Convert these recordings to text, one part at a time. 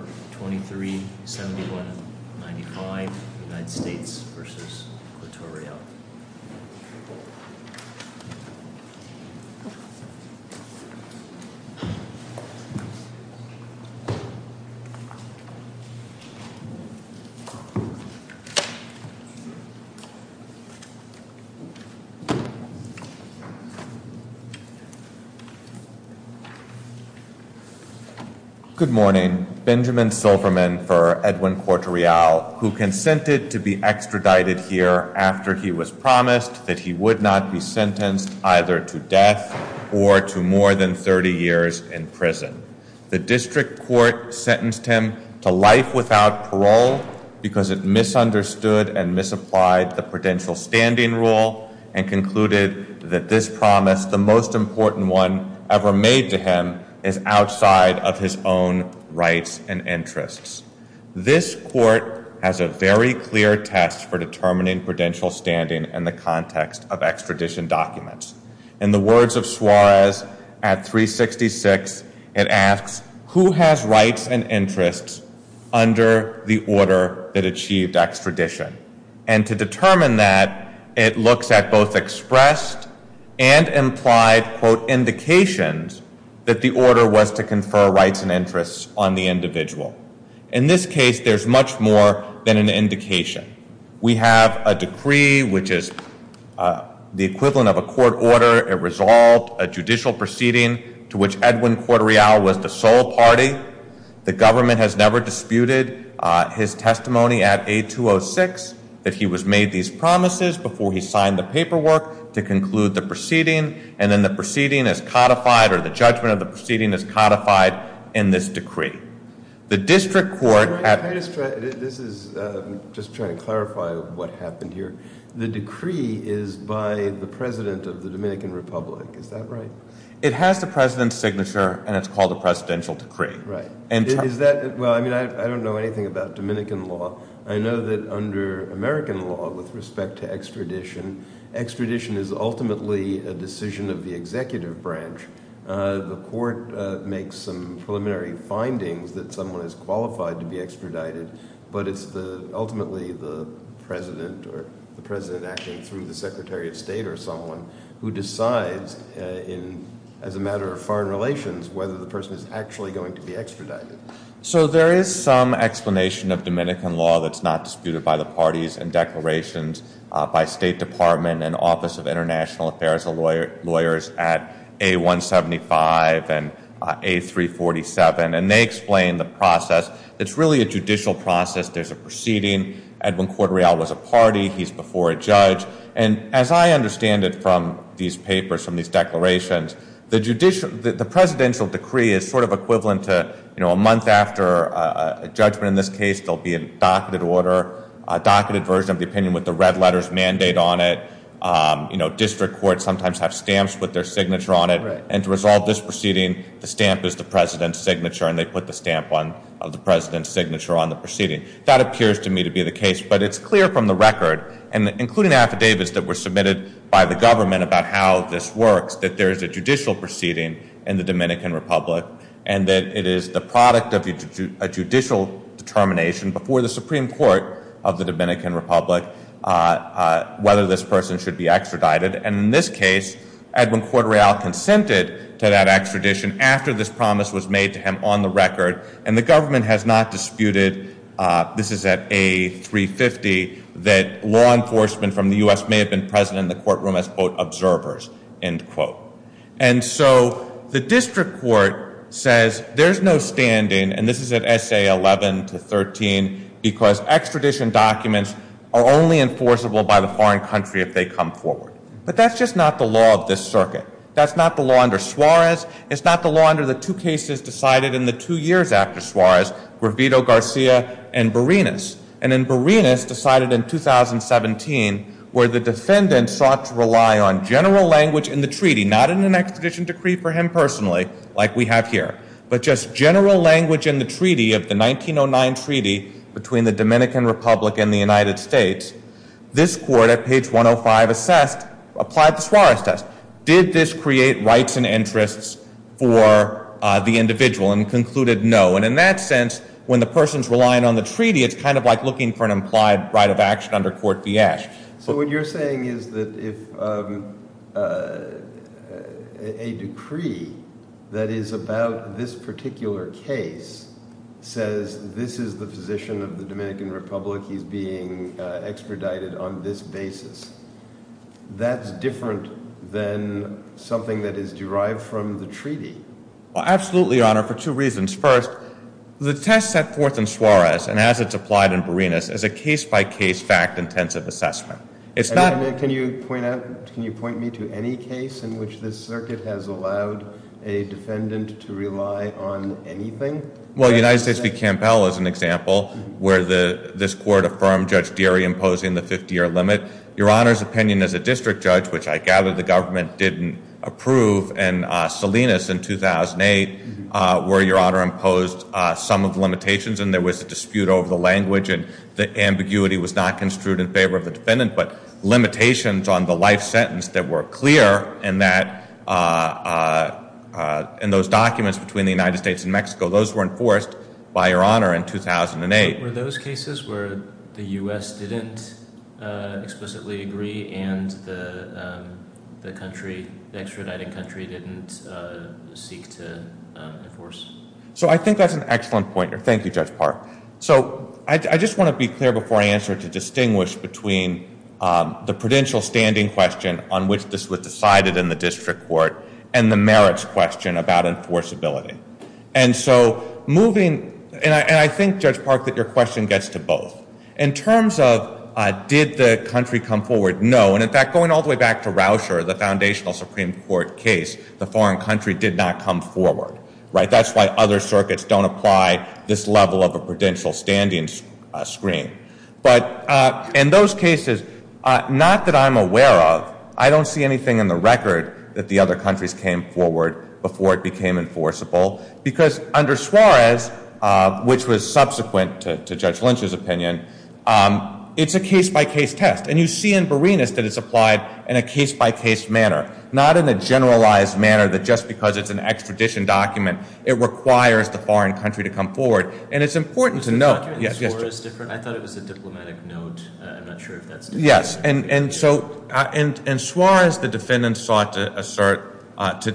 or 237195 United States v. Littorio. Good morning. Benjamin Silverman for Edwin Corte Real, who consented to be extradited here after he was promised that he would not be sentenced either to death or to more than 30 years in The district court sentenced him to life without parole because it misunderstood and misapplied the prudential standing rule and concluded that this promise, the most important one ever made to him, is outside of his own rights and interests. This court has a very clear test for determining prudential standing in the context of extradition documents. In the words of Suarez at 366, it asks, who has rights and interests under the order that achieved extradition? And to determine that, it looks at both expressed and implied, quote, indications that the order was to confer rights and interests on the individual. In this case, there's much more than an indication. We have a decree, which is the equivalent of a court order, a resolve, a judicial proceeding to which Edwin Corte Real was the sole party. The government has never disputed his testimony at 8206 that he was made these promises before he signed the paperwork to conclude the proceeding. And then the proceeding is codified, or the judgment of the proceeding is codified in this decree. The district court at- I'm just trying to clarify what happened here. The decree is by the president of the Dominican Republic, is that right? It has the president's signature, and it's called a presidential decree. Right. Is that- Well, I mean, I don't know anything about Dominican law. I know that under American law, with respect to extradition, extradition is ultimately a decision of the executive branch. The court makes some preliminary findings that someone is qualified to be extradited, but it's ultimately the president or the president acting through the secretary of state or someone who decides, as a matter of foreign relations, whether the person is actually going to be extradited. So there is some explanation of Dominican law that's not disputed by the parties and declarations by State Department and Office of International Affairs of Lawyers at A-175 and A-347, and they explain the process. It's really a judicial process. There's a proceeding. Edwin Cordreal was a party. He's before a judge. And as I understand it from these papers, from these declarations, the presidential decree is sort of equivalent to, you know, a month after a judgment in this case, there'll be a docketed order, a docketed version of the opinion with the red letters mandate on it. You know, district courts sometimes have stamps with their signature on it. And to resolve this proceeding, the stamp is the president's signature, and they put the stamp of the president's signature on the proceeding. That appears to me to be the case, but it's clear from the record, and including affidavits that were submitted by the government about how this works, that there is a judicial proceeding in the Dominican Republic, and that it is the product of a judicial determination before the Supreme Court of the Dominican Republic whether this person should be extradited. And in this case, Edwin Cordreal consented to that extradition after this promise was made to him on the record. And the government has not disputed, this is at A-350, that law enforcement from the U.S. may have been present in the courtroom as, quote, observers, end quote. And so, the district court says there's no standing, and this is at S.A. 11 to 13, because extradition documents are only enforceable by the foreign country if they come forward. But that's just not the law of this circuit. That's not the law under Suarez. It's not the law under the two cases decided in the two years after Suarez were Vito Garcia and Berenice. And in Berenice, decided in 2017, where the defendant sought to rely on general language in the treaty, not in an extradition decree for him personally, like we have here, but just general language in the treaty of the 1909 treaty between the Dominican Republic and the United States, this court at page 105 assessed, applied the Suarez test, did this create rights and interests for the individual, and concluded no. And in that sense, when the person's relying on the treaty, it's kind of like looking for an implied right of action under Court Vieche. So what you're saying is that if a decree that is about this particular case says this is the position of the Dominican Republic, he's being expedited on this basis, that's different than something that is derived from the treaty? Well, absolutely, Your Honor, for two reasons. First, the test set forth in Suarez, and as it's applied in Berenice, as a case-by-case fact-intensive assessment. It's not... Can you point me to any case in which this circuit has allowed a defendant to rely on anything? Well, United States v. Campbell is an example, where this court affirmed Judge Deary imposing the 50-year limit. Your Honor's opinion as a district judge, which I gather the government didn't approve, and Salinas in 2008, where Your Honor imposed some of the limitations, and there was a dispute over the language, and the ambiguity was not construed in favor of the defendant, but limitations on the life sentence that were clear, and that... And those documents between the United States and Mexico, those were enforced by Your Honor in 2008. Were those cases where the U.S. didn't explicitly agree, and the country, the extraditing country, didn't seek to enforce? So I think that's an excellent pointer. Thank you, Judge Park. So I just want to be clear before I answer to distinguish between the prudential standing question on which this was decided in the district court, and the merits question about enforceability. And so moving... And I think, Judge Park, that your question gets to both. In terms of did the country come forward, no. And in fact, going all the way back to Rauscher, the foundational Supreme Court case, the foreign country did not come forward, right? That's why other circuits don't apply this level of a prudential standing screen. But in those cases, not that I'm aware of, I don't see anything in the record that the other countries came forward before it became enforceable. Because under Suarez, which was subsequent to Judge Lynch's opinion, it's a case-by-case test. And you see in Berenice that it's applied in a case-by-case manner, not in a generalized manner, that just because it's an extradition document, it requires the foreign country to come forward. And it's important to note... Was the document in Suarez different? I thought it was a diplomatic note. I'm not sure if that's different. Yes. And so in Suarez, the defendants sought to assert,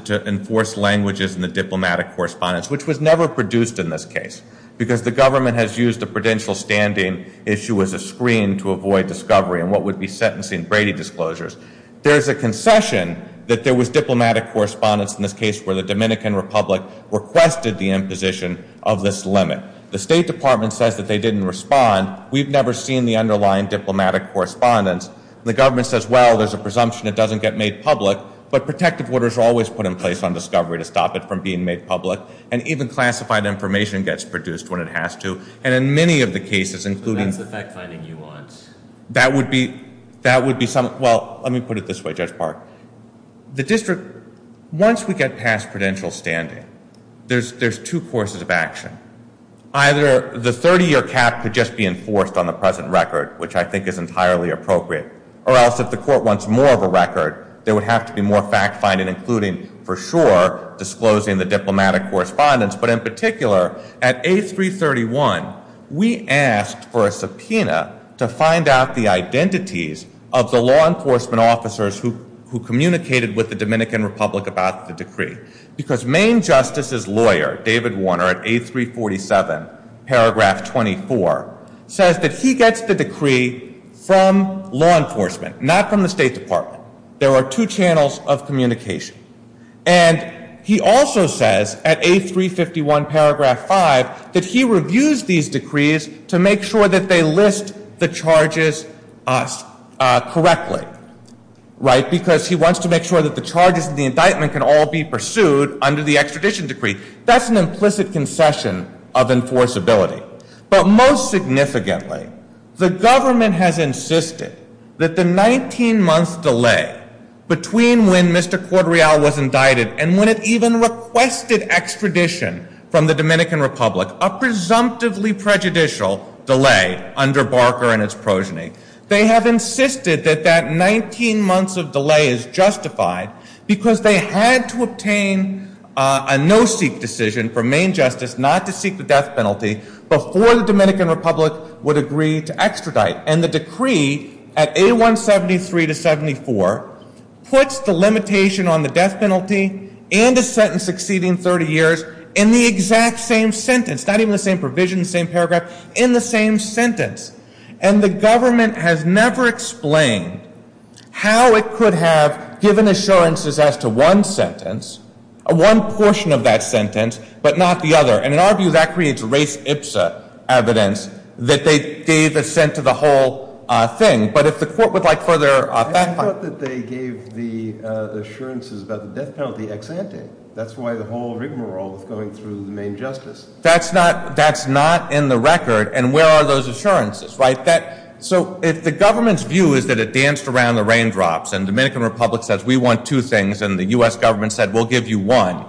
to enforce languages in the diplomatic correspondence, which was never produced in this case. Because the government has used the prudential standing issue as a screen to avoid discovery in what would be sentencing Brady disclosures. There's a concession that there was diplomatic correspondence in this case where the Dominican Republic requested the imposition of this limit. The State Department says that they didn't respond. We've never seen the underlying diplomatic correspondence. The government says, well, there's a presumption it doesn't get made public. But protective orders are always put in place on discovery to stop it from being made public. And even classified information gets produced when it has to. And in many of the cases, including... So that's the fact-finding nuance. That would be... That would be some... Well, let me put it this way, Judge Park. The district... Once we get past prudential standing, there's two courses of action. Either the 30-year cap could just be enforced on the present record, which I think is entirely appropriate. Or else if the court wants more of a record, there would have to be more fact-finding, including, for sure, disclosing the diplomatic correspondence. But in particular, at A331, we asked for a subpoena to find out the identities of the law enforcement officers who communicated with the Dominican Republic about the decree. Because Maine Justice's lawyer, David Warner, at A347, paragraph 24, says that he gets the decree from law enforcement, not from the State Department. There are two channels of communication. And he also says, at A351, paragraph 5, that he reviews these decrees to make sure that they list the charges correctly, right? Because he wants to make sure that the charges in the indictment can all be pursued under the extradition decree. That's an implicit concession of enforceability. But most significantly, the government has insisted that the 19-month delay between when Mr. Cordreal was indicted and when it even requested extradition from the Dominican Republic, a presumptively prejudicial delay under Barker and its progeny, they have insisted that that 19 months of delay is justified because they had to obtain a no-seek decision from Maine Justice not to seek the death penalty before the Dominican Republic would agree to extradite. And the decree at A173 to 74 puts the limitation on the death penalty and a sentence exceeding 30 years in the exact same sentence, not even the same provision, the same paragraph, in the same sentence. And the government has never explained how it could have given assurances as to one sentence, one portion of that sentence, but not the other. And in our view, that creates race ipsa evidence that they gave assent to the whole thing. But if the court would like further back talk. I thought that they gave the assurances about the death penalty ex ante. That's why the whole rigmarole of going through the Maine Justice. That's not in the record. And where are those assurances, right? So if the government's view is that it danced around the raindrops and Dominican Republic says we want two things and the U.S. government said we'll give you one,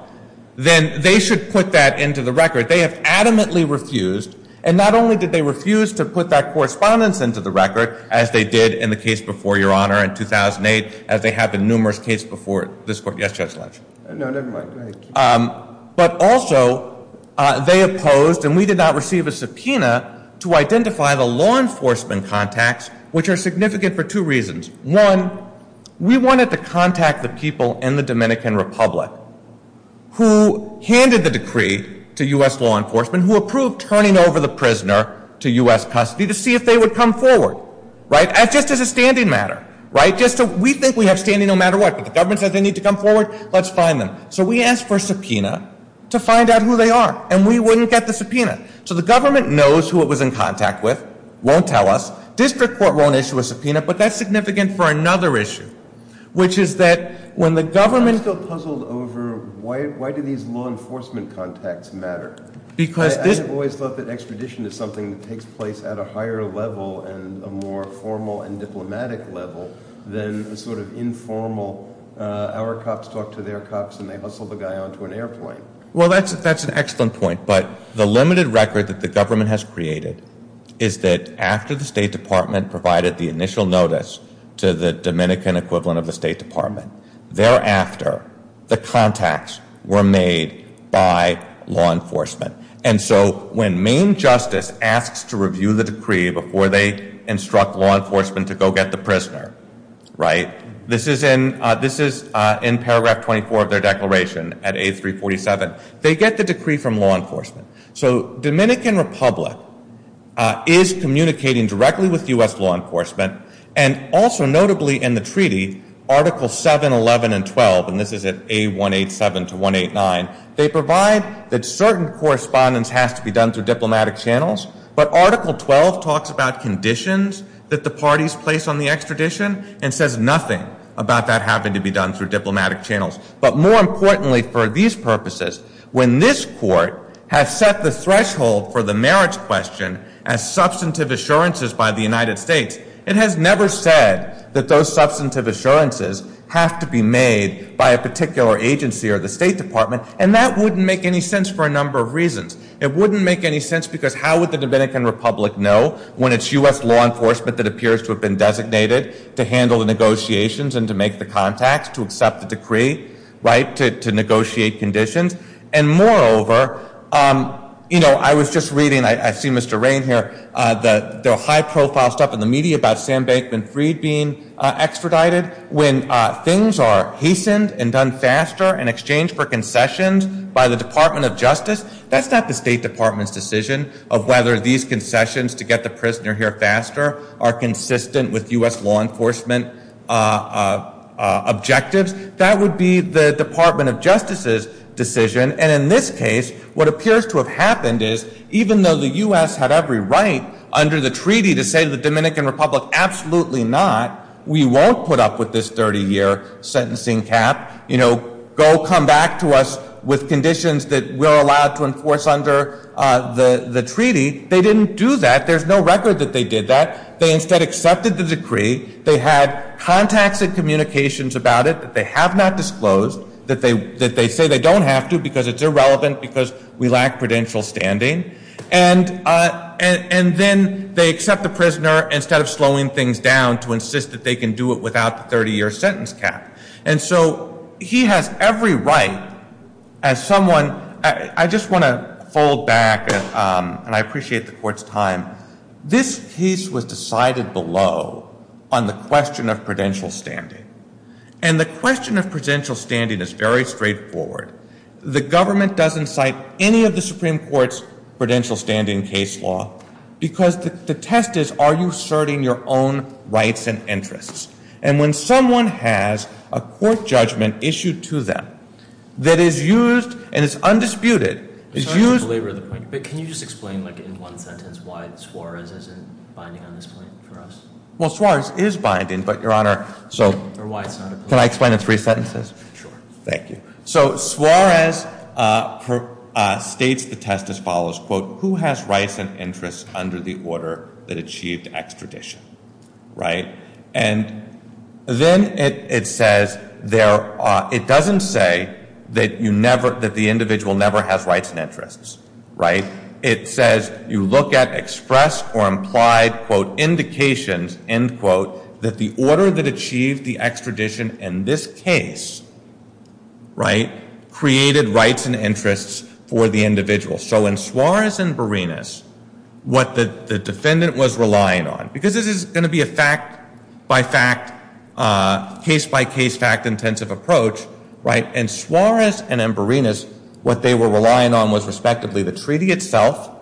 then they should put that into the record. They have adamantly refused. And not only did they refuse to put that correspondence into the record, as they did in the case before your honor in 2008, as they have in numerous cases before this court. Yes, Judge Ledge? No, never mind. But also, they opposed and we did not receive a subpoena to identify the law enforcement contacts, which are significant for two reasons. One, we wanted to contact the people in the Dominican Republic who handed the decree to U.S. law enforcement, who approved turning over the prisoner to U.S. custody to see if they would come forward, right, just as a standing matter, right, just so we think we have standing no matter what. But the government said they need to come forward, let's find them. So we asked for a subpoena to find out who they are. And we wouldn't get the subpoena. So the government knows who it was in contact with, won't tell us. District court won't issue a subpoena, but that's significant for another issue, which is that when the government... I'm still puzzled over why do these law enforcement contacts matter? Because this... I've always thought that extradition is something that takes place at a higher level and a more formal and diplomatic level than the sort of informal, our cops talk to their cops and they hustle the guy onto an airplane. Well, that's an excellent point, but the limited record that the government has created is that after the State Department provided the initial notice to the Dominican equivalent of the State Department, thereafter, the contacts were made by law enforcement. And so when Maine justice asks to review the decree before they instruct law enforcement to go get the prisoner, right, this is in paragraph 24 of their declaration at 8347, they get the decree from law enforcement. So Dominican Republic is communicating directly with U.S. law enforcement and also notably in the treaty, Article 7, 11, and 12, and this is at A187 to 189, they provide that certain correspondence has to be done through diplomatic channels, but Article 12 talks about conditions that the parties place on the extradition and says nothing about that having to be done through diplomatic channels. But more importantly for these purposes, when this court has set the threshold for the marriage question as substantive assurances by the United States, it has never said that those substantive assurances have to be made by a particular agency or the State Department and that wouldn't make any sense for a number of reasons. It wouldn't make any sense because how would the Dominican Republic know when it's U.S. law enforcement that appears to have been designated to handle the negotiations and to make the contacts to accept the decree, right, to negotiate conditions? And moreover, you know, I was just reading, I see Mr. Rain here, the high profile stuff in the media about Sam Bankman Freed being extradited, when things are hastened and done faster in exchange for concessions by the Department of Justice, that's not the State Department's decision of whether these concessions to get the prisoner here faster are consistent with U.S. law enforcement objectives. That would be the Department of Justice's decision and in this case, what appears to have happened is even though the U.S. had every right under the treaty to say to the Dominican Republic, absolutely not, we won't put up with this 30-year sentencing cap, you know, go come back to us with conditions that we're allowed to enforce under the treaty, they didn't do that. There's no record that they did that. They instead accepted the decree, they had contacts and communications about it that they have not disclosed, that they say they don't have to because it's irrelevant because we lack prudential standing, and then they accept the prisoner instead of slowing things down to insist that they can do it without the 30-year sentence cap. And so he has every right as someone, I just want to fold back and I appreciate the Court's time, this case was decided below on the question of prudential standing. And the question of prudential standing is very straightforward. The government doesn't cite any of the Supreme Court's prudential standing case law because the test is are you asserting your own rights and interests? And when someone has a court judgment issued to them that is used and is undisputed, is that true? But can you just explain in one sentence why Suarez isn't binding on this point for us? Well, Suarez is binding, but Your Honor, so can I explain in three sentences? Sure. Thank you. So Suarez states the test as follows, quote, who has rights and interests under the order that achieved extradition? Right? And then it says there are, it doesn't say that you never, that the individual never has rights and interests, right? It says you look at express or implied, quote, indications, end quote, that the order that achieved the extradition in this case, right, created rights and interests for the individual. So in Suarez and Berenice, what the defendant was relying on, because this is going to be a fact by fact, case by case fact intensive approach, right, in Suarez and in Berenice, what they were relying on was respectively the treaty itself,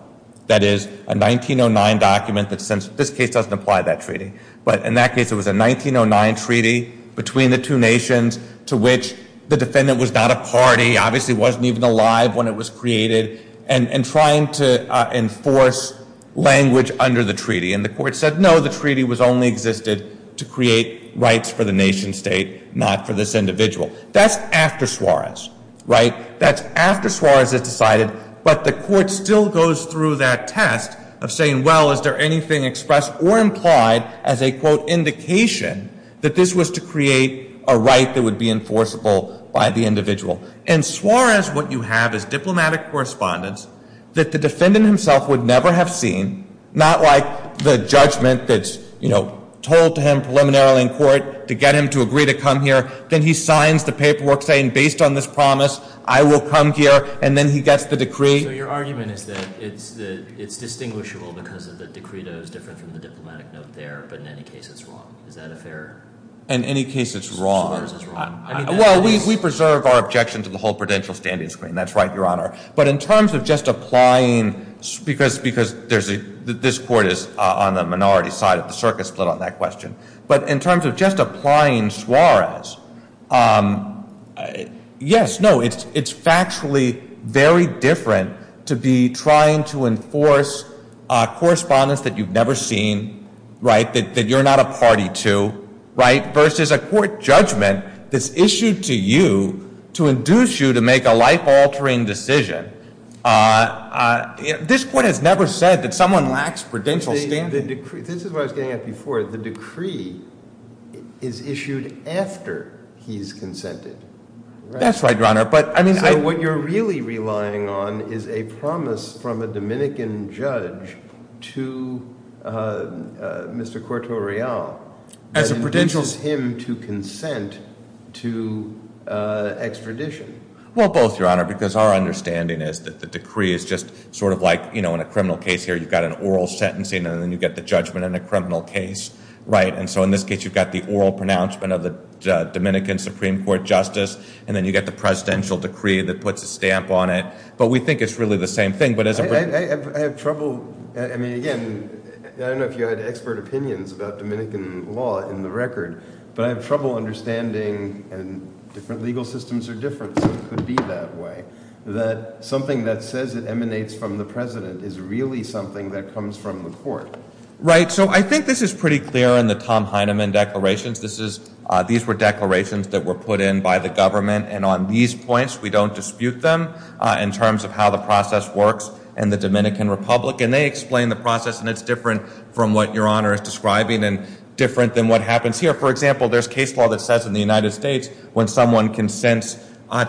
that is a 1909 document that since this case doesn't apply that treaty, but in that case it was a 1909 treaty between the two nations to which the defendant was not a party, obviously wasn't even alive when it was created, and trying to enforce language under the treaty. And the court said no, the treaty was only existed to create rights for the nation state, not for this individual. That's after Suarez, right? That's after Suarez has decided, but the court still goes through that test of saying, well, is there anything expressed or implied as a, quote, indication that this was to create a right that would be enforceable by the individual. And Suarez, what you have is diplomatic correspondence that the defendant himself would never have seen, not like the judgment that's, you know, told to him preliminarily in court to get him to agree to come here, then he signs the paperwork saying, based on this promise, I will come here, and then he gets the decree. So your argument is that it's distinguishable because of the decreto is different from the diplomatic note there, but in any case it's wrong. Is that a fair? In any case it's wrong. Suarez is wrong. Well, we preserve our objection to the whole prudential standing screen. That's right, Your Honor. But in terms of just applying, because this court is on the minority side of the circuit split on that question, but in terms of just applying Suarez, yes, no, it's factually very different to be trying to enforce correspondence that you've never seen, right, that you're not a party to, right, versus a court judgment that's issued to you to induce you to make a life-altering decision. This court has never said that someone lacks prudential standing. This is what I was getting at before. The decree is issued after he's consented. That's right, Your Honor. But I mean, I... So what you're really relying on is a promise from a Dominican judge to Mr. Quartorell. As a prudential... That induces him to consent to extradition. Well, both, Your Honor, because our understanding is that the decree is just sort of like, you know, in a criminal case here you've got an oral sentencing and then you get the judgment in a criminal case, right, and so in this case you've got the oral pronouncement of a Dominican Supreme Court justice, and then you get the presidential decree that puts a stamp on it. But we think it's really the same thing, but as a... I have trouble... I mean, again, I don't know if you had expert opinions about Dominican law in the record, but I have trouble understanding, and different legal systems are different, so it could be that way, that something that says it emanates from the president is really something that comes from the court. Right. So I think this is pretty clear in the Tom Heinemann declarations. This is... These were declarations that were put in by the government, and on these points we don't dispute them in terms of how the process works in the Dominican Republic, and they explain the process, and it's different from what Your Honor is describing and different than what happens here. For example, there's case law that says in the United States when someone consents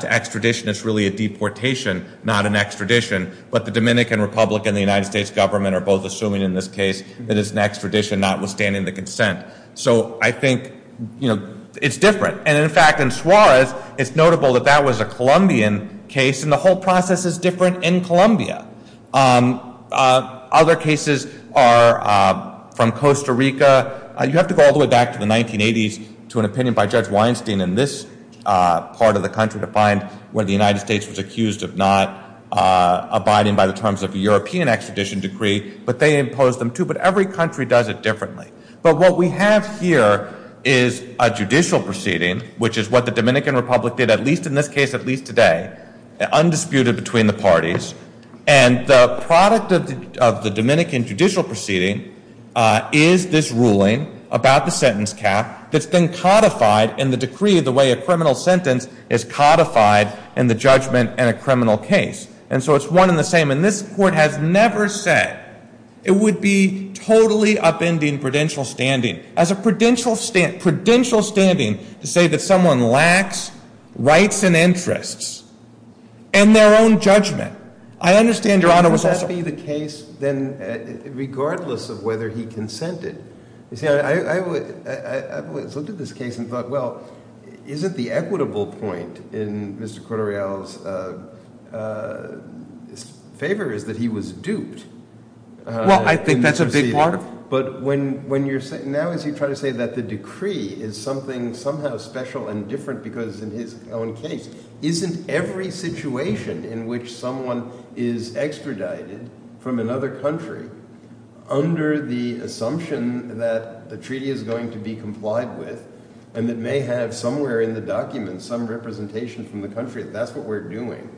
to extradition it's really a deportation, not an extradition, but the Dominican Republic and the United States government are both assuming in this case that it's an extradition notwithstanding the consent. So I think, you know, it's different, and in fact in Suarez it's notable that that was a Colombian case, and the whole process is different in Colombia. Other cases are from Costa Rica, you have to go all the way back to the 1980s to an opinion by Judge Weinstein in this part of the country to find where the United States was accused of not abiding by the terms of a European extradition decree, but they imposed them too, but every country does it differently. But what we have here is a judicial proceeding, which is what the Dominican Republic did at least in this case at least today, undisputed between the parties, and the product of the Dominican judicial proceeding is this ruling about the sentence cap that's been codified in the decree the way a criminal sentence is codified in the judgment in a criminal case. And so it's one and the same, and this Court has never said it would be totally upending prudential standing. As a prudential standing to say that someone lacks rights and interests and their own judgment, I understand Your Honor was also... But wouldn't that be the case then, regardless of whether he consented? You see, I've looked at this case and thought, well, isn't the equitable point in Mr. Corderial's favor is that he was duped. Well, I think that's a big part of it. But now as you try to say that the decree is something somehow special and different because in his own case, isn't every situation in which someone is extradited from another country under the assumption that the treaty is going to be complied with and that may have somewhere in the documents some representation from the country, that that's what we're doing.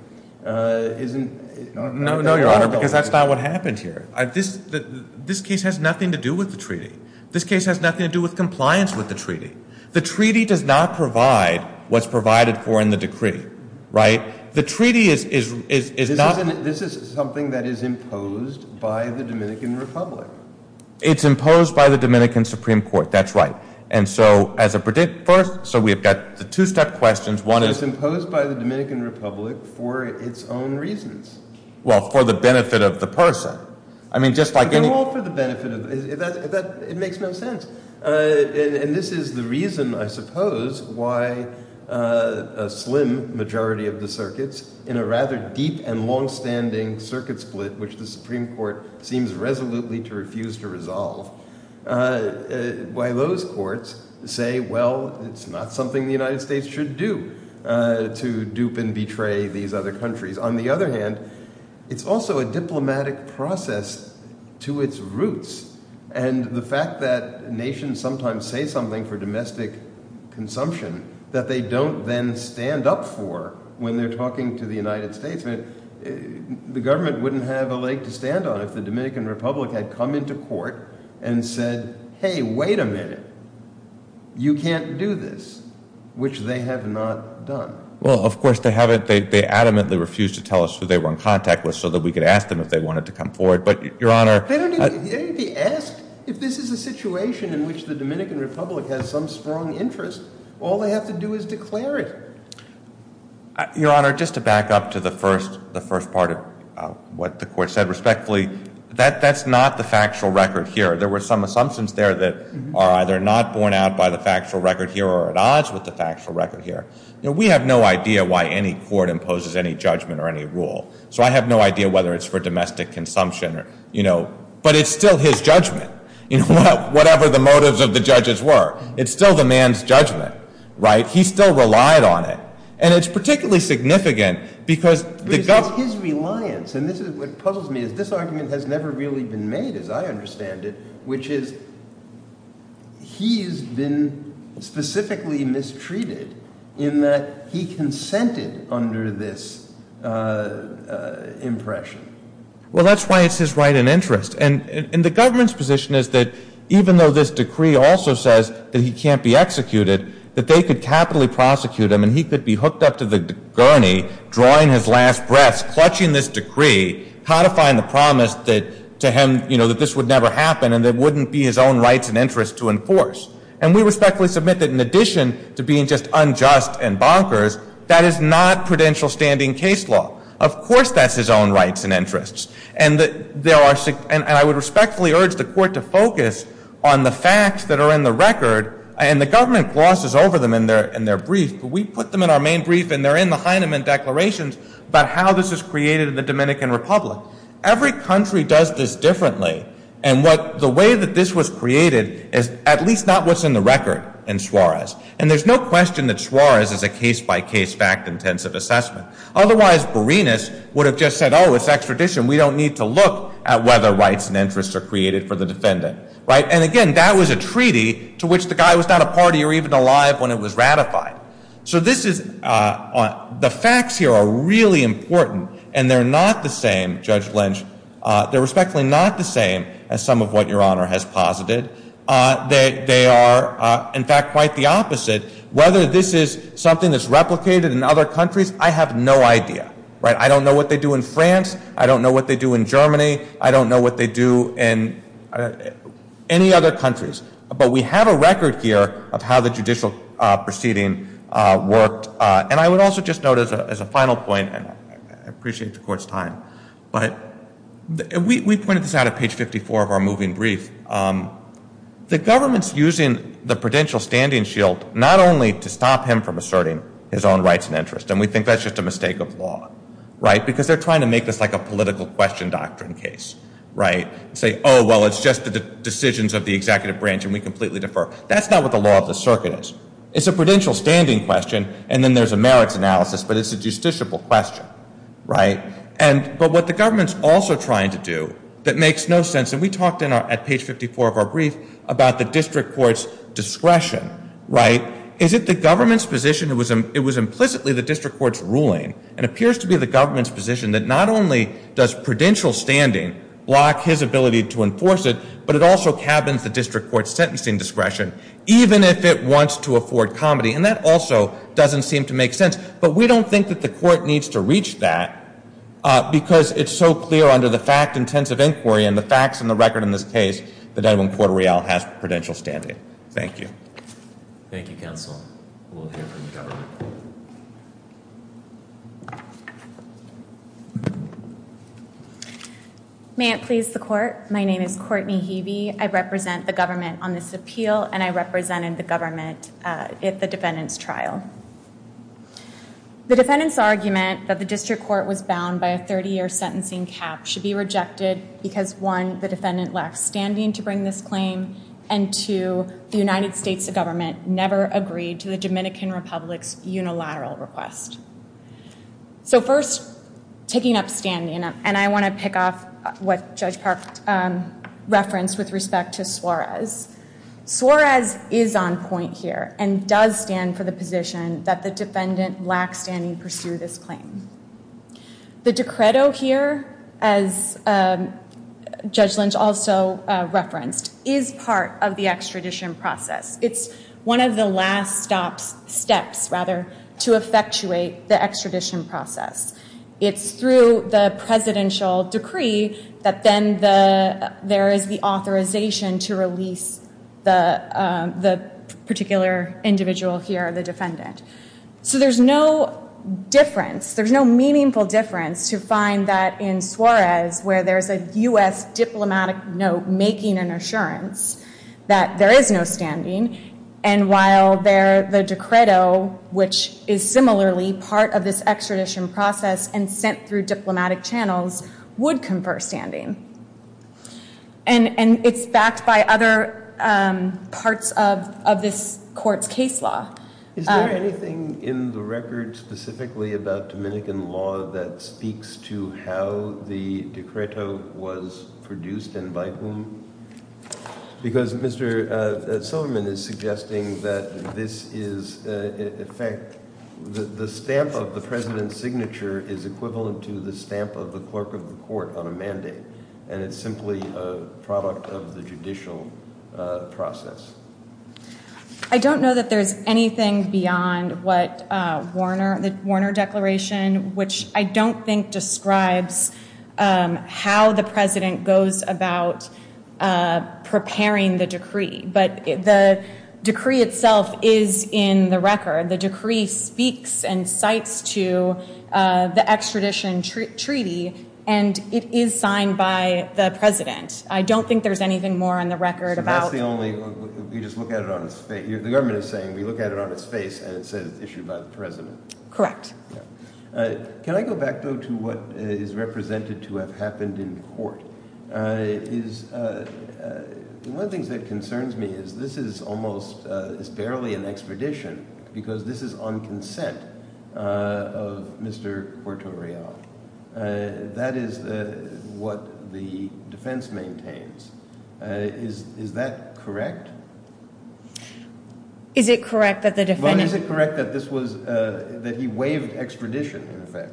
No, Your Honor, because that's not what happened here. This case has nothing to do with the treaty. This case has nothing to do with compliance with the treaty. The treaty does not provide what's provided for in the decree, right? The treaty is not... This is something that is imposed by the Dominican Republic. It's imposed by the Dominican Supreme Court, that's right. And so as a... So we've got the two-step questions. One is... It's imposed by the Dominican Republic for its own reasons. Well, for the benefit of the person. I mean, just like any... They're all for the benefit of... It makes no sense. And this is the reason, I suppose, why a slim majority of the circuits in a rather deep and long-standing circuit split, which the Supreme Court seems resolutely to refuse to resolve, why those courts say, well, it's not something the United States should do to dupe and betray these other countries. On the other hand, it's also a diplomatic process to its roots. And the fact that nations sometimes say something for domestic consumption that they don't then stand up for when they're talking to the United States. The government wouldn't have a leg to stand on if the Dominican Republic had come into court and said, hey, wait a minute, you can't do this, which they have not done. Well, of course, they haven't. They adamantly refuse to tell us who they were in contact with so that we could ask them if they wanted to come forward. But Your Honor... They don't even... They don't even ask if this is a situation in which the Dominican Republic has some strong interest. All they have to do is declare it. Your Honor, just to back up to the first part of what the Court said respectfully, that's not the factual record here. There were some assumptions there that are either not borne out by the factual record here or at odds with the factual record here. We have no idea why any court imposes any judgment or any rule. So I have no idea whether it's for domestic consumption or... But it's still his judgment, whatever the motives of the judges were. It's still the man's judgment, right? He still relied on it. And it's particularly significant because the government... But it's his reliance. And this is what puzzles me, is this argument has never really been made as I understand it, which is he's been specifically mistreated in that he consented under this impression. Well, that's why it's his right and interest. And the government's position is that even though this decree also says that he can't be executed, that they could capitally prosecute him and he could be hooked up to the gurney, drawing his last breaths, clutching this decree, codifying the promise that to him, you know, that this would never happen and that it wouldn't be his own rights and interests to enforce. And we respectfully submit that in addition to being just unjust and bonkers, that is not prudential standing case law. Of course that's his own rights and interests. And I would respectfully urge the court to focus on the facts that are in the record. And the government glosses over them in their brief, but we put them in our main brief and they're in the Heinemann declarations about how this is created in the Dominican Republic. Every country does this differently. And the way that this was created is at least not what's in the record in Suarez. And there's no question that Suarez is a case-by-case, fact-intensive assessment. Otherwise, Borenas would have just said, oh, it's extradition. We don't need to look at whether rights and interests are created for the defendant. Right? And again, that was a treaty to which the guy was not a party or even alive when it was ratified. So this is, the facts here are really important. And they're not the same, Judge Lynch, they're respectfully not the same as some of what Your Honor has posited. They are, in fact, quite the opposite. Whether this is something that's replicated in other countries, I have no idea. Right? I don't know what they do in France. I don't know what they do in Germany. I don't know what they do in any other countries. But we have a record here of how the judicial proceeding worked. And I would also just note as a final point, and I appreciate the Court's time, but we pointed this out at page 54 of our moving brief. The government's using the prudential standing shield not only to stop him from asserting his own rights and interests. And we think that's just a mistake of law. Right? Because they're trying to make this like a political question doctrine case. Right? And say, oh, well, it's just the decisions of the executive branch and we completely defer. That's not what the law of the circuit is. It's a prudential standing question and then there's a merits analysis, but it's a justiciable question. Right? And, but what the government's also trying to do that makes no sense, and we talked at page 54 of our brief about the district court's discretion, right? Is it the government's position, it was implicitly the district court's ruling, and it appears to be the government's position that not only does prudential standing block his ability to enforce it, but it also cabins the district court's sentencing discretion even if it wants to afford comedy. And that also doesn't seem to make sense. But we don't think that the court needs to reach that because it's so clear under the fact-intensive inquiry and the facts and the record in this case that Edwin Corderial has prudential standing. Thank you. Thank you, counsel. We'll hear from the government. May it please the court. My name is Courtney Heavey. I represent the government on this appeal, and I represented the government at the defendant's The defendant's argument that the district court was bound by a 30-year sentencing cap should be rejected because one, the defendant left standing to bring this claim, and two, the United States government never agreed to the Dominican Republic's unilateral request. So first, taking up standing, and I want to pick off what Judge Park referenced with respect to Suarez, Suarez is on point here and does stand for the position that the defendant lacks standing to pursue this claim. The decreto here, as Judge Lynch also referenced, is part of the extradition process. It's one of the last stops, steps, rather, to effectuate the extradition process. It's through the presidential decree that then there is the authorization to release the particular individual here, the defendant. So there's no difference, there's no meaningful difference to find that in Suarez, where there's a U.S. diplomatic note making an assurance that there is no standing, and while the decreto, which is similarly part of this extradition process and sent through diplomatic channels, would confer standing. And it's backed by other parts of this court's case law. Is there anything in the record specifically about Dominican law that speaks to how the decreto was produced and by whom? Because Mr. Silverman is suggesting that this is, in fact, the stamp of the president's signature is equivalent to the stamp of the clerk of the court on a mandate, and it's simply a product of the judicial process. I don't know that there's anything beyond the Warner Declaration, which I don't think describes how the president goes about preparing the decree, but the decree itself is in the The decree speaks and cites to the extradition treaty, and it is signed by the president. I don't think there's anything more on the record about So that's the only, you just look at it on its face, the government is saying, we look at it on its face and it says it's issued by the president. Correct. Can I go back, though, to what is represented to have happened in court? One of the things that concerns me is this is almost, it's barely an extradition because this is on consent of Mr. Cuartorell. That is what the defense maintains. Is that correct? Is it correct that the defendant But is it correct that this was, that he waived extradition, in effect,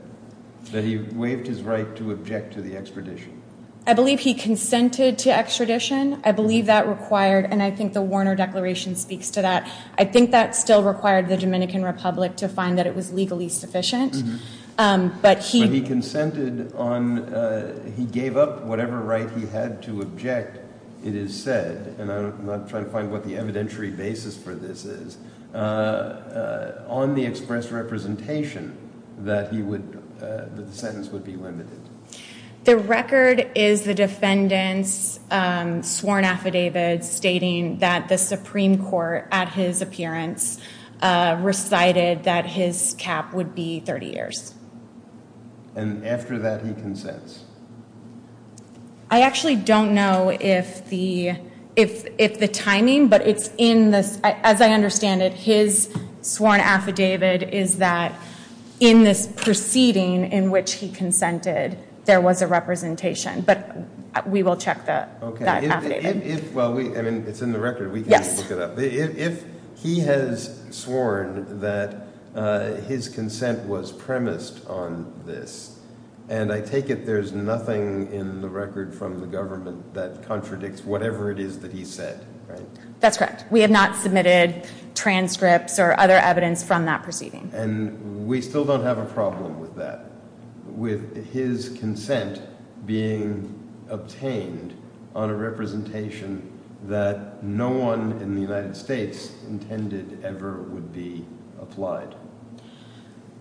that he waived his right to object to the extradition? I believe he consented to extradition. I believe that required, and I think the Warner Declaration speaks to that. I think that still required the Dominican Republic to find that it was legally sufficient, But he consented on, he gave up whatever right he had to object, it is said, and I'm not trying to find what the evidentiary basis for this is, on the express representation that he would, that the sentence would be limited. The record is the defendant's sworn affidavit stating that the Supreme Court, at his appearance, recited that his cap would be 30 years. And after that, he consents? I actually don't know if the timing, but it's in the, as I understand it, his sworn affidavit is that in this proceeding in which he consented, there was a representation, but we will check that affidavit. If, well, I mean, it's in the record, we can look it up. If he has sworn that his consent was premised on this, and I take it there's nothing in the record from the government that contradicts whatever it is that he said, right? That's correct. We have not submitted transcripts or other evidence from that proceeding. And we still don't have a problem with that. With his consent being obtained on a representation that no one in the United States intended ever would be applied?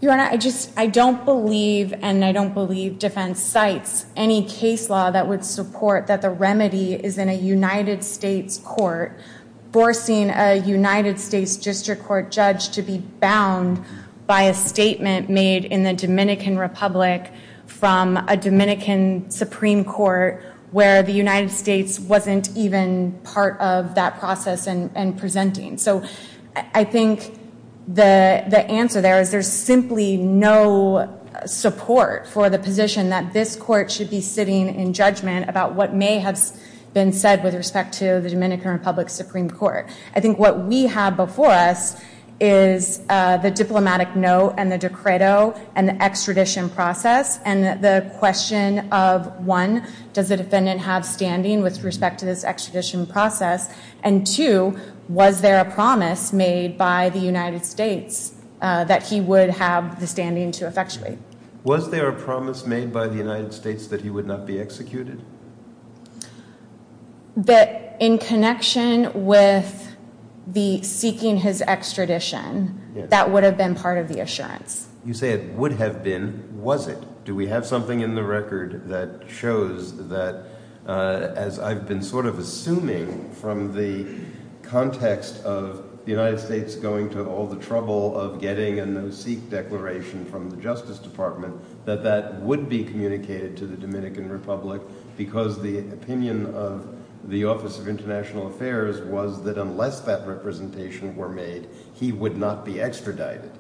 Your Honor, I just, I don't believe, and I don't believe defense cites any case law that would support that the remedy is in a United States court, forcing a United States district court judge to be bound by a statement made in the Dominican Republic from a Dominican Supreme Court where the United States wasn't even part of that process in presenting. So I think the answer there is there's simply no support for the position that this court should be sitting in judgment about what may have been said with respect to the Dominican Republic Supreme Court. I think what we have before us is the diplomatic note and the decreto and the extradition process and the question of, one, does the defendant have standing with respect to this extradition process, and two, was there a promise made by the United States that he would have the standing to effectuate? Was there a promise made by the United States that he would not be executed? That in connection with the seeking his extradition, that would have been part of the assurance. You say it would have been. Was it? Do we have something in the record that shows that, as I've been sort of assuming from the context of the United States going to all the trouble of getting a no-seek declaration from the Justice Department, that that would be communicated to the Dominican Republic because the opinion of the Office of International Affairs was that unless that representation were made, he would not be extradited?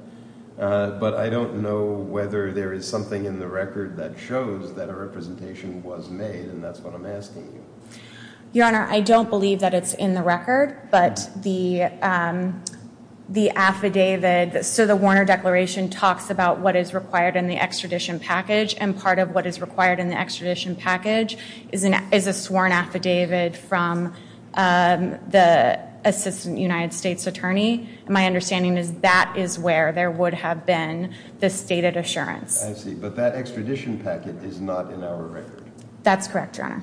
But I don't know whether there is something in the record that shows that a representation was made, and that's what I'm asking you. Your Honor, I don't believe that it's in the record, but the affidavit, so the Warner Declaration talks about what is required in the extradition package, and part of what is required in the extradition package is a sworn affidavit from the Assistant United States Attorney. My understanding is that is where there would have been the stated assurance. I see. But that extradition packet is not in our record. That's correct, Your Honor.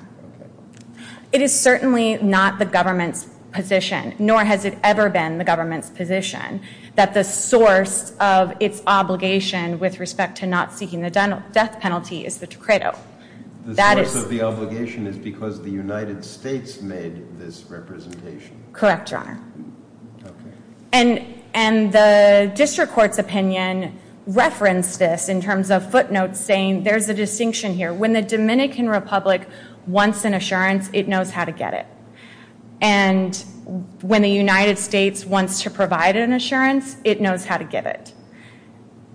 It is certainly not the government's position, nor has it ever been the government's position, that the source of its obligation with respect to not seeking the death penalty is the credo. The source of the obligation is because the United States made this representation. Correct, Your Honor. And the district court's opinion referenced this in terms of footnotes saying there's a distinction here. When the Dominican Republic wants an assurance, it knows how to get it. And when the United States wants to provide an assurance, it knows how to get it.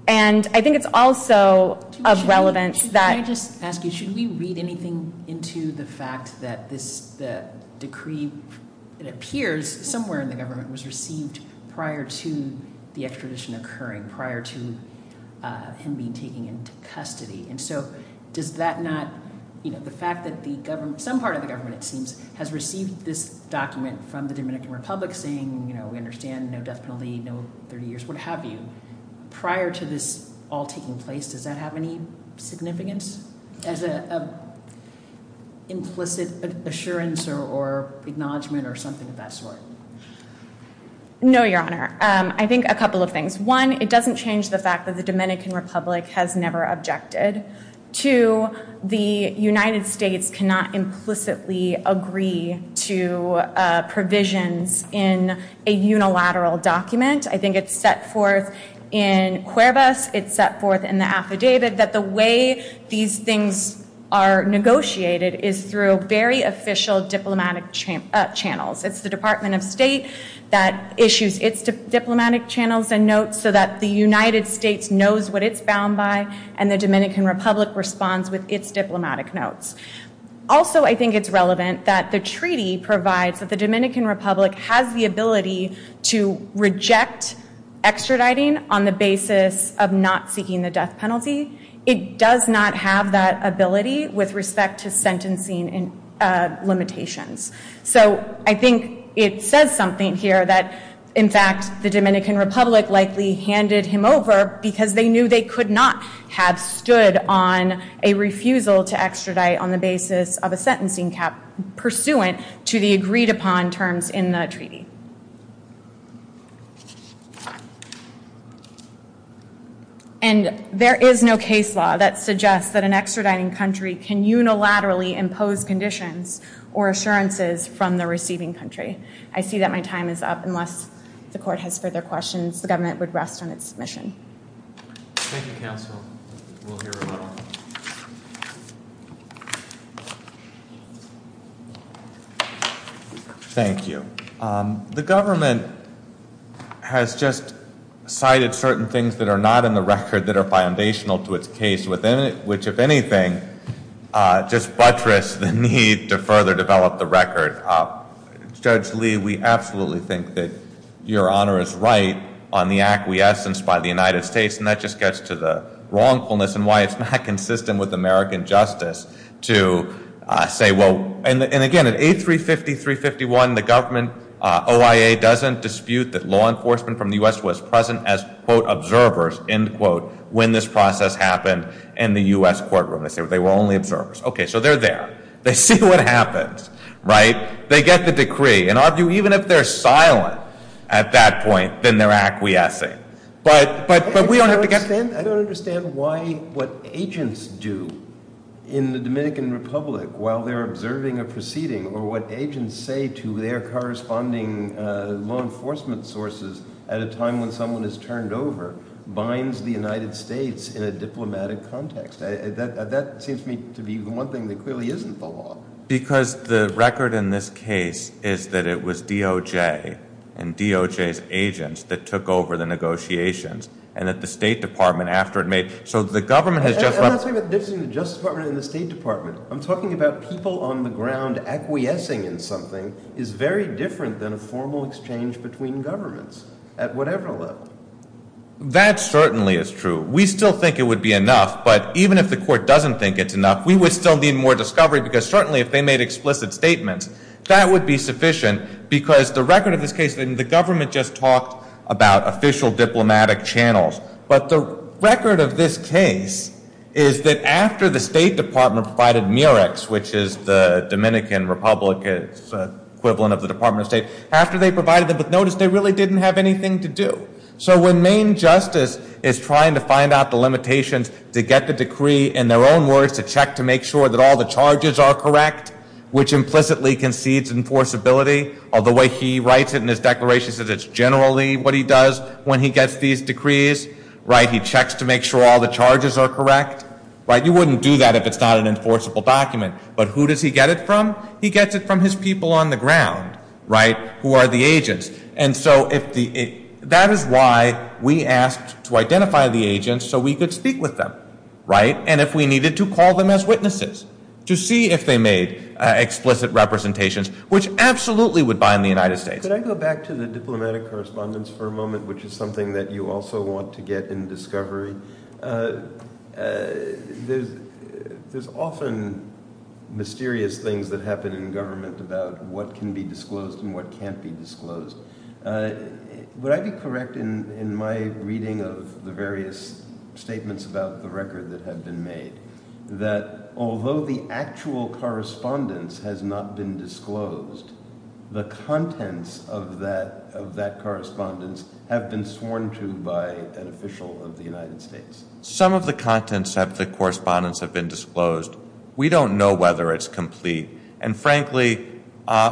And I think it's also of relevance that- Can I just ask you, should we read anything into the fact that this decree, it appears somewhere in the government, was received prior to the extradition occurring, prior to him being taken into custody. And so does that not, you know, the fact that the government, some part of the government it seems, has received this document from the Dominican Republic saying, you know, we understand, no death penalty, no 30 years, what have you, prior to this all taking place, does that have any significance as an implicit assurance or acknowledgement or something of that sort? No, Your Honor. I think a couple of things. One, it doesn't change the fact that the Dominican Republic has never objected. Two, the United States cannot implicitly agree to provisions in a unilateral document. I think it's set forth in Cuervas, it's set forth in the affidavit that the way these things are negotiated is through very official diplomatic channels. It's the Department of State that issues its diplomatic channels and notes so that the public responds with its diplomatic notes. Also I think it's relevant that the treaty provides that the Dominican Republic has the ability to reject extraditing on the basis of not seeking the death penalty. It does not have that ability with respect to sentencing limitations. So I think it says something here that, in fact, the Dominican Republic likely handed him over because they knew they could not have stood on a refusal to extradite on the basis of a sentencing cap pursuant to the agreed upon terms in the treaty. And there is no case law that suggests that an extraditing country can unilaterally impose conditions or assurances from the receiving country. I see that my time is up. Unless the court has further questions, the government would rest on its submission. Thank you, counsel. We'll hear from you. Thank you. The government has just cited certain things that are not in the record that are foundational to its case, which, if anything, just buttress the need to further develop the record. Judge Lee, we absolutely think that Your Honor is right on the acquiescence by the United States, and that just gets to the wrongfulness and why it's not consistent with American justice to say, well, and again, at A350, 351, the government OIA doesn't dispute that law enforcement from the U.S. was present as, quote, observers, end quote, when this process happened in the U.S. courtroom. They say they were only observers. Okay. So they're there. They see what happens, right? They get the decree. And even if they're silent at that point, then they're acquiescing. But we don't have to get there. I don't understand why what agents do in the Dominican Republic while they're observing a proceeding or what agents say to their corresponding law enforcement sources at a time when someone is turned over binds the United States in a diplomatic context. That seems to me to be the one thing that clearly isn't the law. Because the record in this case is that it was DOJ and DOJ's agents that took over the negotiations and that the State Department, after it made, so the government has just I'm not talking about the difference between the Justice Department and the State Department. I'm talking about people on the ground acquiescing in something is very different than a formal exchange between governments at whatever level. That certainly is true. We still think it would be enough. But even if the court doesn't think it's enough, we would still need more discovery because certainly if they made explicit statements, that would be sufficient. Because the record of this case, and the government just talked about official diplomatic channels. But the record of this case is that after the State Department provided MERECs, which is the Dominican Republic's equivalent of the Department of State, after they provided them with notice, they really didn't have anything to do. So when Maine Justice is trying to find out the limitations to get the decree in their own words to check to make sure that all the charges are correct, which implicitly concedes enforceability of the way he writes it in his declaration, says it's generally what he does when he gets these decrees, right, he checks to make sure all the charges are correct, right, you wouldn't do that if it's not an enforceable document. But who does he get it from? He gets it from his people on the ground, right, who are the agents. And so if the, that is why we asked to identify the agents so we could speak with them, right, and if we needed to call them as witnesses to see if they made explicit representations, which absolutely would bind the United States. Could I go back to the diplomatic correspondence for a moment, which is something that you also want to get in discovery? There's often mysterious things that happen in government about what can be disclosed and what can't be disclosed. Would I be correct in my reading of the various statements about the record that have been made that although the actual correspondence has not been disclosed, the contents of that correspondence have been sworn to by an official of the United States? Some of the contents of the correspondence have been disclosed. We don't know whether it's complete. And frankly,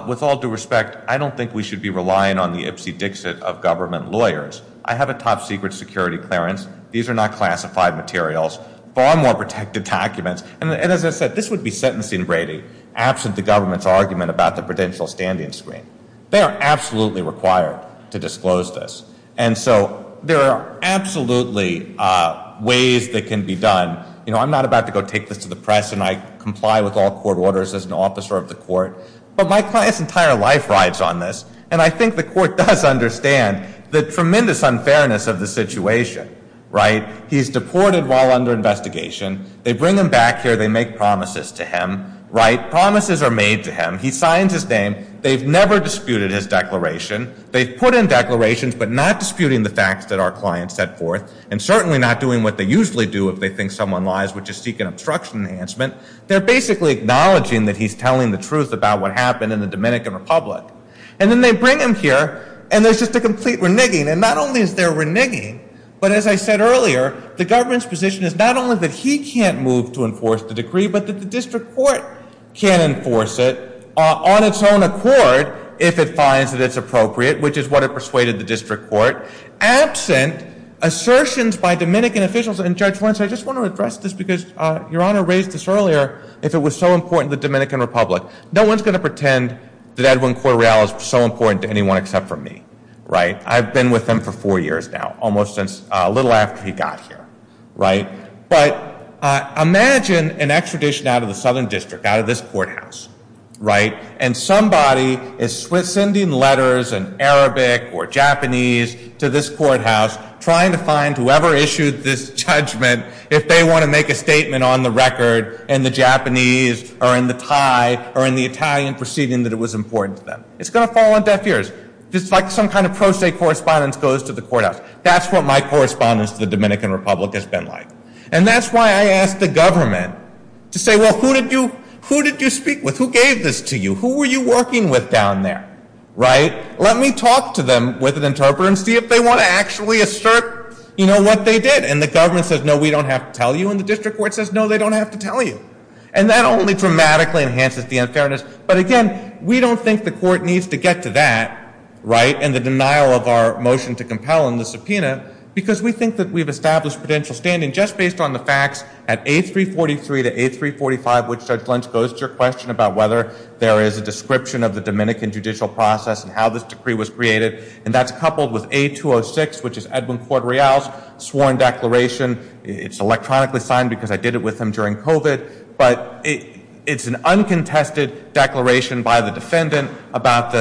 with all due respect, I don't think we should be relying on the Ipsy-Dixit of government lawyers. I have a top-secret security clearance. These are not classified materials, far more protected documents, and as I said, this would be sentencing rating absent the government's argument about the prudential standing screen. They are absolutely required to disclose this. And so there are absolutely ways that can be done, you know, I'm not about to go take this to the press and I comply with all court orders as an officer of the court, but my client's entire life rides on this. And I think the court does understand the tremendous unfairness of the situation, right? He's deported while under investigation. They bring him back here. They make promises to him, right? Promises are made to him. He signs his name. They've never disputed his declaration. They've put in declarations but not disputing the facts that our client set forth and certainly not doing what they usually do if they think someone lies, which is seek an obstruction enhancement. They're basically acknowledging that he's telling the truth about what happened in the Dominican Republic. And then they bring him here and there's just a complete reneging. And not only is there reneging, but as I said earlier, the government's position is not only that he can't move to enforce the decree, but that the district court can't enforce it on its own accord if it finds that it's appropriate, which is what it persuaded the district court. Absent assertions by Dominican officials, and Judge Wentz, I just want to address this because Your Honor raised this earlier, if it was so important to the Dominican Republic. No one's going to pretend that Edwin Correal is so important to anyone except for me, right? I've been with him for four years now, almost since a little after he got here, right? But imagine an extradition out of the southern district, out of this courthouse, right? And somebody is sending letters in Arabic or Japanese to this courthouse trying to find whoever issued this judgment if they want to make a statement on the record in the Japanese or in the Thai or in the Italian proceeding that it was important to them. It's going to fall on deaf ears. Just like some kind of pro se correspondence goes to the courthouse. That's what my correspondence to the Dominican Republic has been like. And that's why I asked the government to say, well, who did you speak with? Who gave this to you? Who were you working with down there, right? Let me talk to them with an interpreter and see if they want to actually assert, you know, what they did. And the government says, no, we don't have to tell you. And the district court says, no, they don't have to tell you. And that only dramatically enhances the unfairness. But again, we don't think the court needs to get to that, right, and the denial of our motion to compel in the subpoena because we think that we've established potential standing just based on the facts at 8343 to 8345, which Judge Lynch goes to your question about whether there is a description of the Dominican judicial process and how this decree was created. And that's coupled with A206, which is Edwin Corte Real's sworn declaration. It's electronically signed because I did it with him during COVID. But it's an uncontested declaration by the defendant about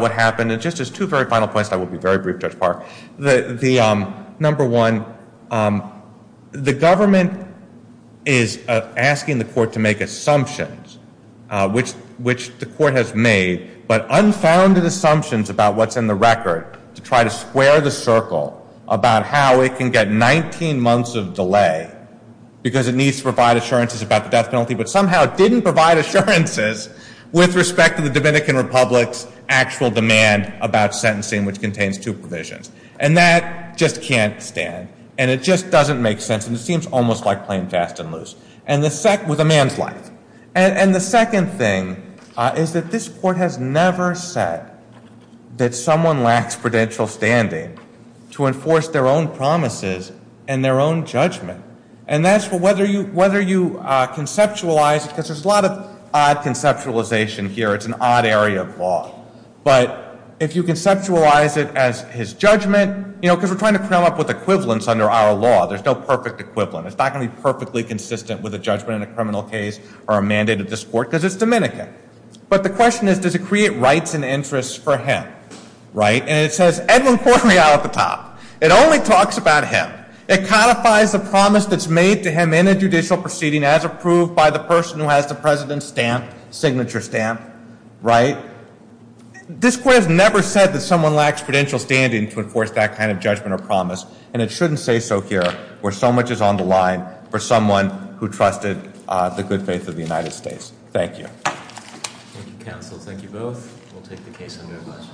what happened. And just as two very final points that will be very brief, Judge Park. Number one, the government is asking the court to make assumptions, which the court has made, but unfounded assumptions about what's in the record to try to square the circle about how it can get 19 months of delay because it needs to provide assurances about the death penalty, but somehow didn't provide assurances with respect to the Dominican Republic's actual demand about sentencing, which contains two provisions. And that just can't stand, and it just doesn't make sense, and it seems almost like playing fast and loose with a man's life. And the second thing is that this court has never said that someone lacks prudential standing to enforce their own promises and their own judgment. And that's whether you conceptualize, because there's a lot of odd conceptualization here. It's an odd area of law. But if you conceptualize it as his judgment, you know, because we're trying to come up with equivalents under our law. There's no perfect equivalent. It's not going to be perfectly consistent with a judgment in a criminal case or a mandate of this court because it's Dominican. But the question is, does it create rights and interests for him, right? And it says Edwin Cormier out at the top. It only talks about him. It codifies the promise that's made to him in a judicial proceeding as approved by the person who has the president's stamp, signature stamp, right? This court has never said that someone lacks prudential standing to enforce that kind of judgment or promise, and it shouldn't say so here where so much is on the line for someone who trusted the good faith of the United States. Thank you. Thank you, counsel. Thank you both. We'll take the case under admonition.